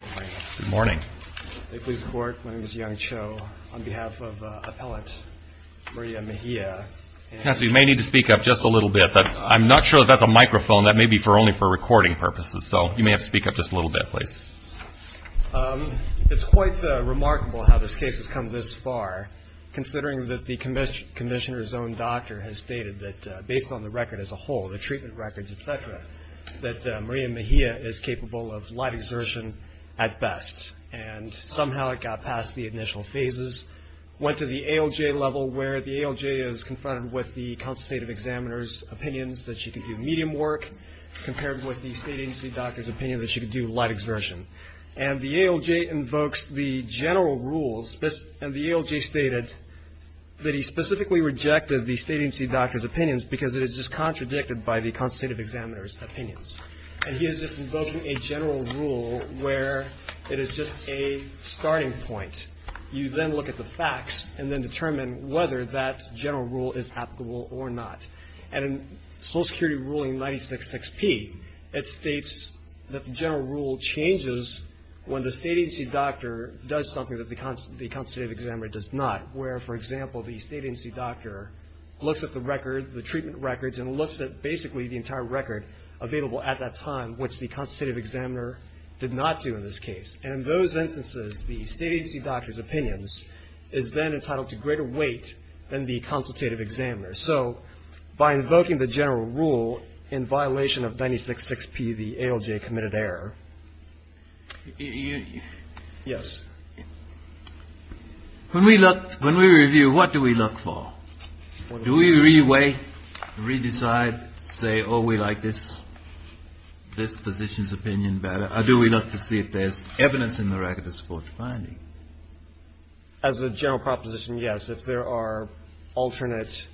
It's quite remarkable how this case has come this far, considering that the Commissioner's own doctor has stated that, based on the record as a whole, the treatment records, etc., that and somehow it got past the initial phases, went to the ALJ level, where the ALJ is confronted with the consultative examiner's opinions that she could do medium work, compared with the state agency doctor's opinion that she could do light exertion. And the ALJ invokes the general rules, and the ALJ stated that he specifically rejected the state agency doctor's opinions because it is just contradicted by the consultative examiner's opinions. And he is just invoking a general rule where it is just a starting point. You then look at the facts and then determine whether that general rule is applicable or not. And in Social Security ruling 96-6P, it states that the general rule changes when the state agency doctor does something that the consultative examiner does not, where, for example, the state agency doctor looks at the record, the treatment records, and looks at basically the entire record available at that time, which the consultative examiner did not do in this case. And in those instances, the state agency doctor's opinions is then entitled to greater weight than the consultative examiner's. So by invoking the general rule in violation of 96-6P, the ALJ committed error. Yes. When we look, when we review, what do we look for? Do we re-weigh, re-decide, say, oh, we like this position's opinion better, or do we look to see if there's evidence in the record to support the finding? As a general proposition, yes. If there are alternate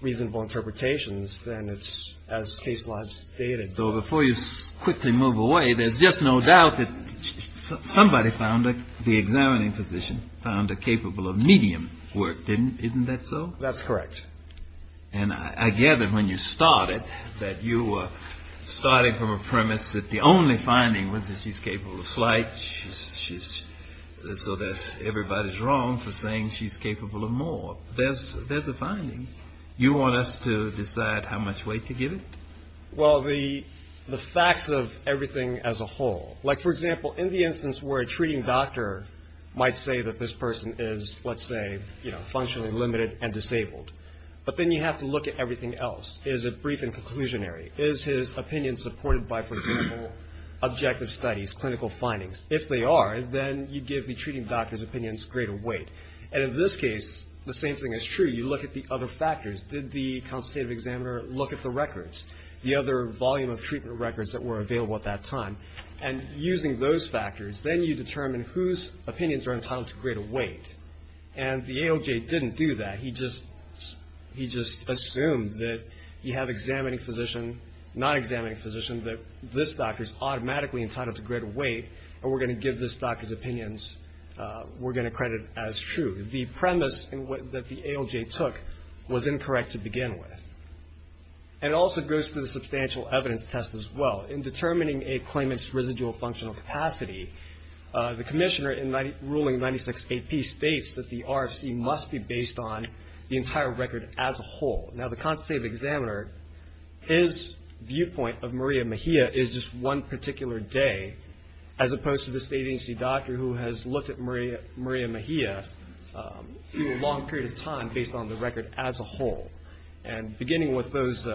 reasonable interpretations, then it's as case law stated. So before you quickly move away, there's just no doubt that somebody found a, the examining physician found a capable of medium work, didn't, isn't that so? That's correct. And I gather when you started that you were starting from a premise that the only finding was that she's capable of slight, she's, so that everybody's wrong for saying she's capable of more. There's a finding. You want us to decide how much weight to give it? Well, the facts of everything as a whole. Like, for example, in the instance where a treating doctor might say that this person is, let's say, you know, functionally limited and disabled, but then you have to look at everything else. Is it brief and conclusionary? Is his opinion supported by, for example, objective studies, clinical findings? If they are, then you give the treating doctor's opinions greater weight. And in this case, the same thing is true. You look at the other factors. Did the consultative examiner look at the records, the other volume of treatment records that were available at that time? And using those factors, then you determine whose opinions are entitled to greater weight. And the ALJ didn't do that. He just, he just assumed that you have examining physician, non-examining physician, that this doctor's automatically entitled to greater weight, and we're going to give this doctor's opinions, we're going to credit as true. The premise that the ALJ took was incorrect to begin with. And it also goes to the substantial evidence test as well. In determining a claimant's residual functional capacity, the commissioner in ruling 96AP states that the RFC must be based on the entire record as a whole. Now, the consultative examiner, his viewpoint of Maria Mejia is just one particular day, as opposed to this agency doctor who has looked at Maria Mejia through a long period of time based on the record as a whole. And beginning with those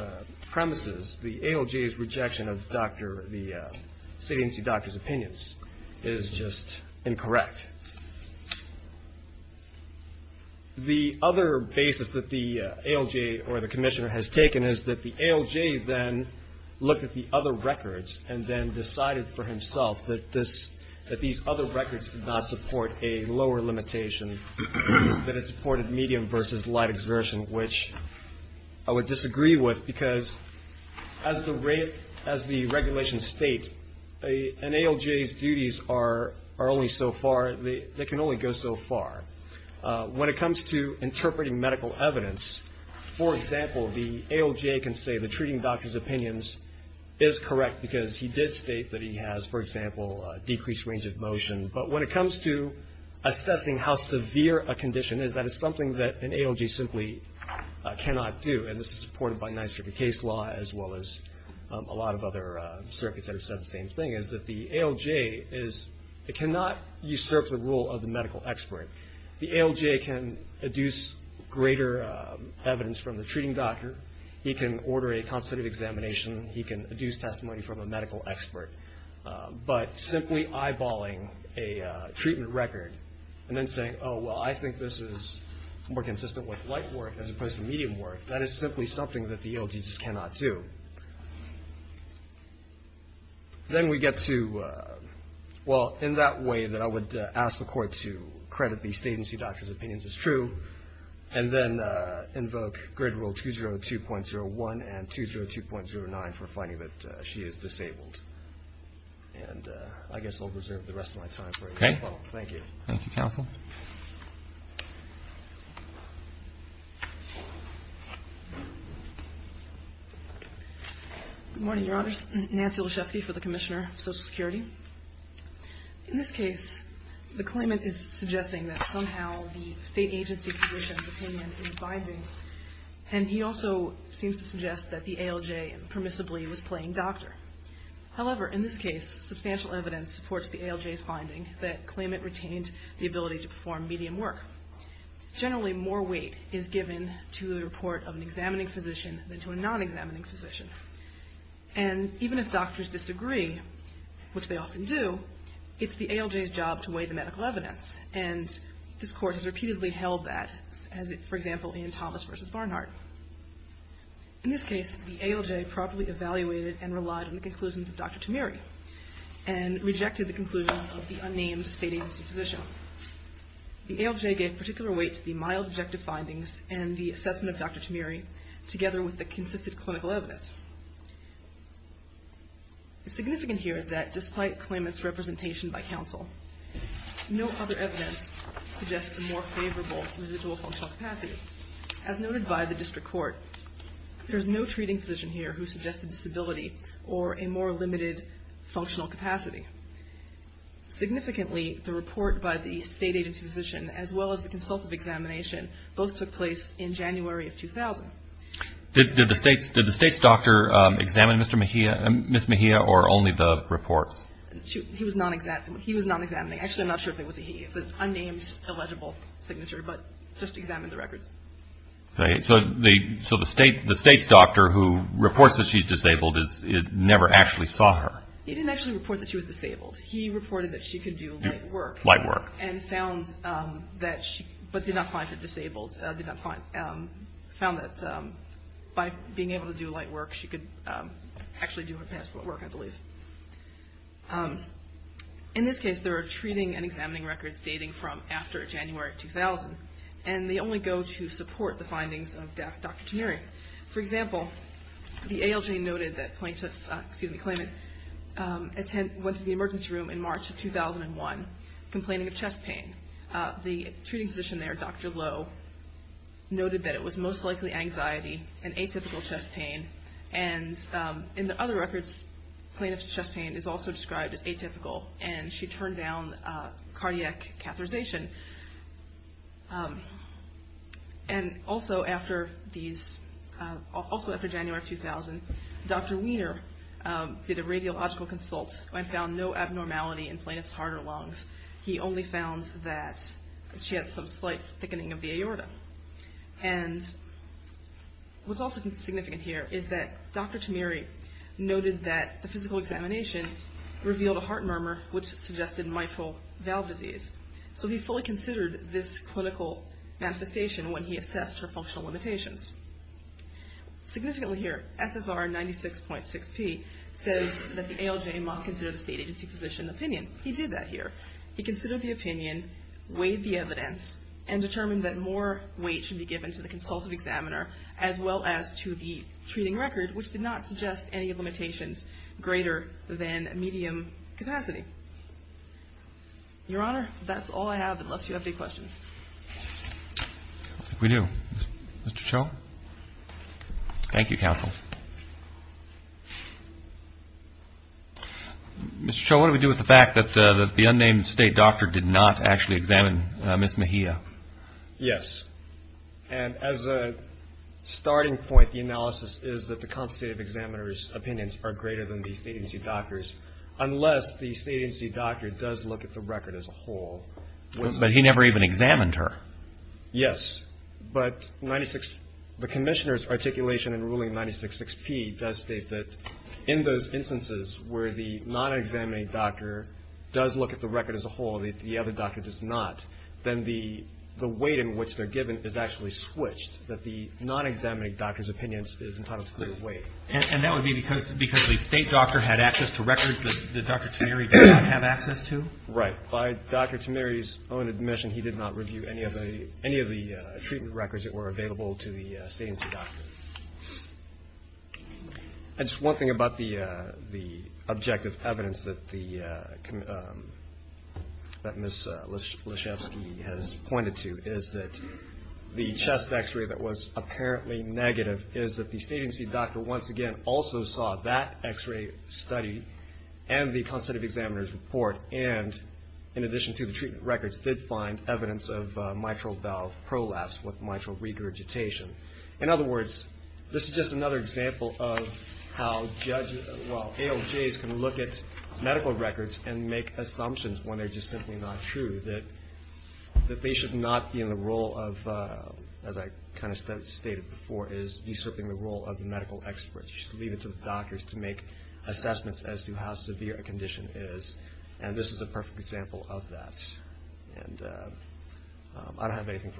premises, the ALJ's rejection of the agency doctor's opinions is just incorrect. The other basis that the ALJ or the commissioner has taken is that the ALJ then looked at the other records and then decided for himself that these other records did not support a medium versus light exertion, which I would disagree with because as the regulations state, an ALJ's duties are only so far, they can only go so far. When it comes to interpreting medical evidence, for example, the ALJ can say the treating doctor's opinions is correct because he did state that he has, for example, a decreased range of motion. But when it comes to assessing how severe a condition is, that is something that an ALJ simply cannot do. And this is supported by NYSERDA case law as well as a lot of other circuits that have said the same thing, is that the ALJ cannot usurp the rule of the medical expert. The ALJ can adduce greater evidence from the treating doctor. He can order a consultative examination. He can adduce testimony from a medical expert. But simply eyeballing a treatment record and then saying, oh, well, I think this is more consistent with light work as opposed to medium work, that is simply something that the ALJ just cannot do. Then we get to, well, in that way that I would ask the court to credit these agency doctors' opinions as true and then invoke grid rule 202.01 and 202.09 for finding that she is disabled. And I guess I'll reserve the rest of my time for it. Okay. Well, thank you. Thank you, counsel. Good morning, Your Honors. Nancy Olszewski for the Commissioner of Social Security. In this case, the claimant is suggesting that somehow the state agency physician's opinion is binding. And he also seems to suggest that the ALJ permissibly was playing doctor. However, in this case, substantial evidence supports the ALJ's finding that claimant retained the ability to perform medium work. Generally, more weight is given to the report of an examining physician than to a non-examining physician. And even if doctors disagree, which they often do, it's the ALJ's job to weigh the medical evidence. And this Court has repeatedly held that, for example, in Thomas v. Barnhart. In this case, the ALJ properly evaluated and relied on the conclusions of Dr. Tamiri and rejected the conclusions of the unnamed state agency physician. The ALJ gave particular weight to the mild objective findings and the assessment of Dr. Tamiri together with the consistent clinical evidence. It's significant here that despite claimant's representation by counsel, no other evidence suggests a more favorable residual functional capacity. As noted by the district court, there's no treating physician here who suggested disability or a more limited functional capacity. Significantly, the report by the state agency physician, as well as the consultative examination, both took place in January of 2000. Did the state's doctor examine Mr. Mejia, Ms. Mejia, or only the reports? He was non-examining. Actually, I'm not sure if it was a he. It's an unnamed, illegible signature, but just examined the records. So the state's doctor who reports that she's disabled never actually saw her? He didn't actually report that she was disabled. He reported that she could do light work. Light work. And found that she, but did not find her disabled. Found that by being able to do light work, she could actually do her past work, I believe. In this case, there are treating and examining records dating from after January 2000, and they only go to support the findings of Dr. Tamiri. For example, the ALJ noted that plaintiff, excuse me, claimant went to the emergency room in March of 2001, complaining of chest pain. The treating physician there, Dr. Lowe, noted that it was most likely anxiety and atypical chest pain, and in the other records, plaintiff's chest pain is also described as atypical, and she turned down cardiac catheterization. And also after these, also after January 2000, Dr. Wiener did a radiological consult and found no abnormality in plaintiff's heart or lungs. He only found that she had some slight thickening of the aorta. And what's also significant here is that Dr. Tamiri noted that the physical examination revealed a heart murmur, which suggested mitral valve disease. So he fully considered this clinical manifestation when he assessed her functional limitations. Significantly here, SSR 96.6p says that the ALJ must consider the state agency physician's opinion. He did that here. He considered the opinion, weighed the evidence, and determined that more weight should be given to the consultative examiner as well as to the treating record, which did not suggest any limitations greater than medium capacity. Your Honor, that's all I have, unless you have any questions. We do. Mr. Cho? Thank you, Counsel. Mr. Cho, what do we do with the fact that the unnamed state doctor did not actually examine Ms. Mejia? Yes. And as a starting point, the analysis is that the consultative examiner's opinions are greater than the state agency doctor's, unless the state agency doctor does look at the record as a whole. But he never even examined her. Yes, but the Commissioner's articulation in ruling 96.6p does state that in those instances where the non-examining doctor does look at the record as a whole, the other doctor does not, then the weight in which they're given is actually switched, that the non-examining doctor's opinion is entitled to greater weight. And that would be because the state doctor had access to records that Dr. Tamiri did not have access to? Right. By Dr. Tamiri's own admission, he did not review any of the treatment records that were available to the state agency doctor. Just one thing about the objective evidence that Ms. Leshefsky has pointed to, is that the chest x-ray that was apparently negative is that the state agency doctor once again also saw that x-ray study and the consultative examiner's report, and in addition to the treatment records, did find evidence of mitral valve prolapse with mitral regurgitation. In other words, this is just another example of how judges, well, ALJs can look at medical records and make assumptions when they're just simply not true, that they should not be in the role of, as I kind of stated before, is usurping the role of the medical experts. You should leave it to the doctors to make assessments as to how severe a condition is, and this is a perfect example of that. And I don't have anything further.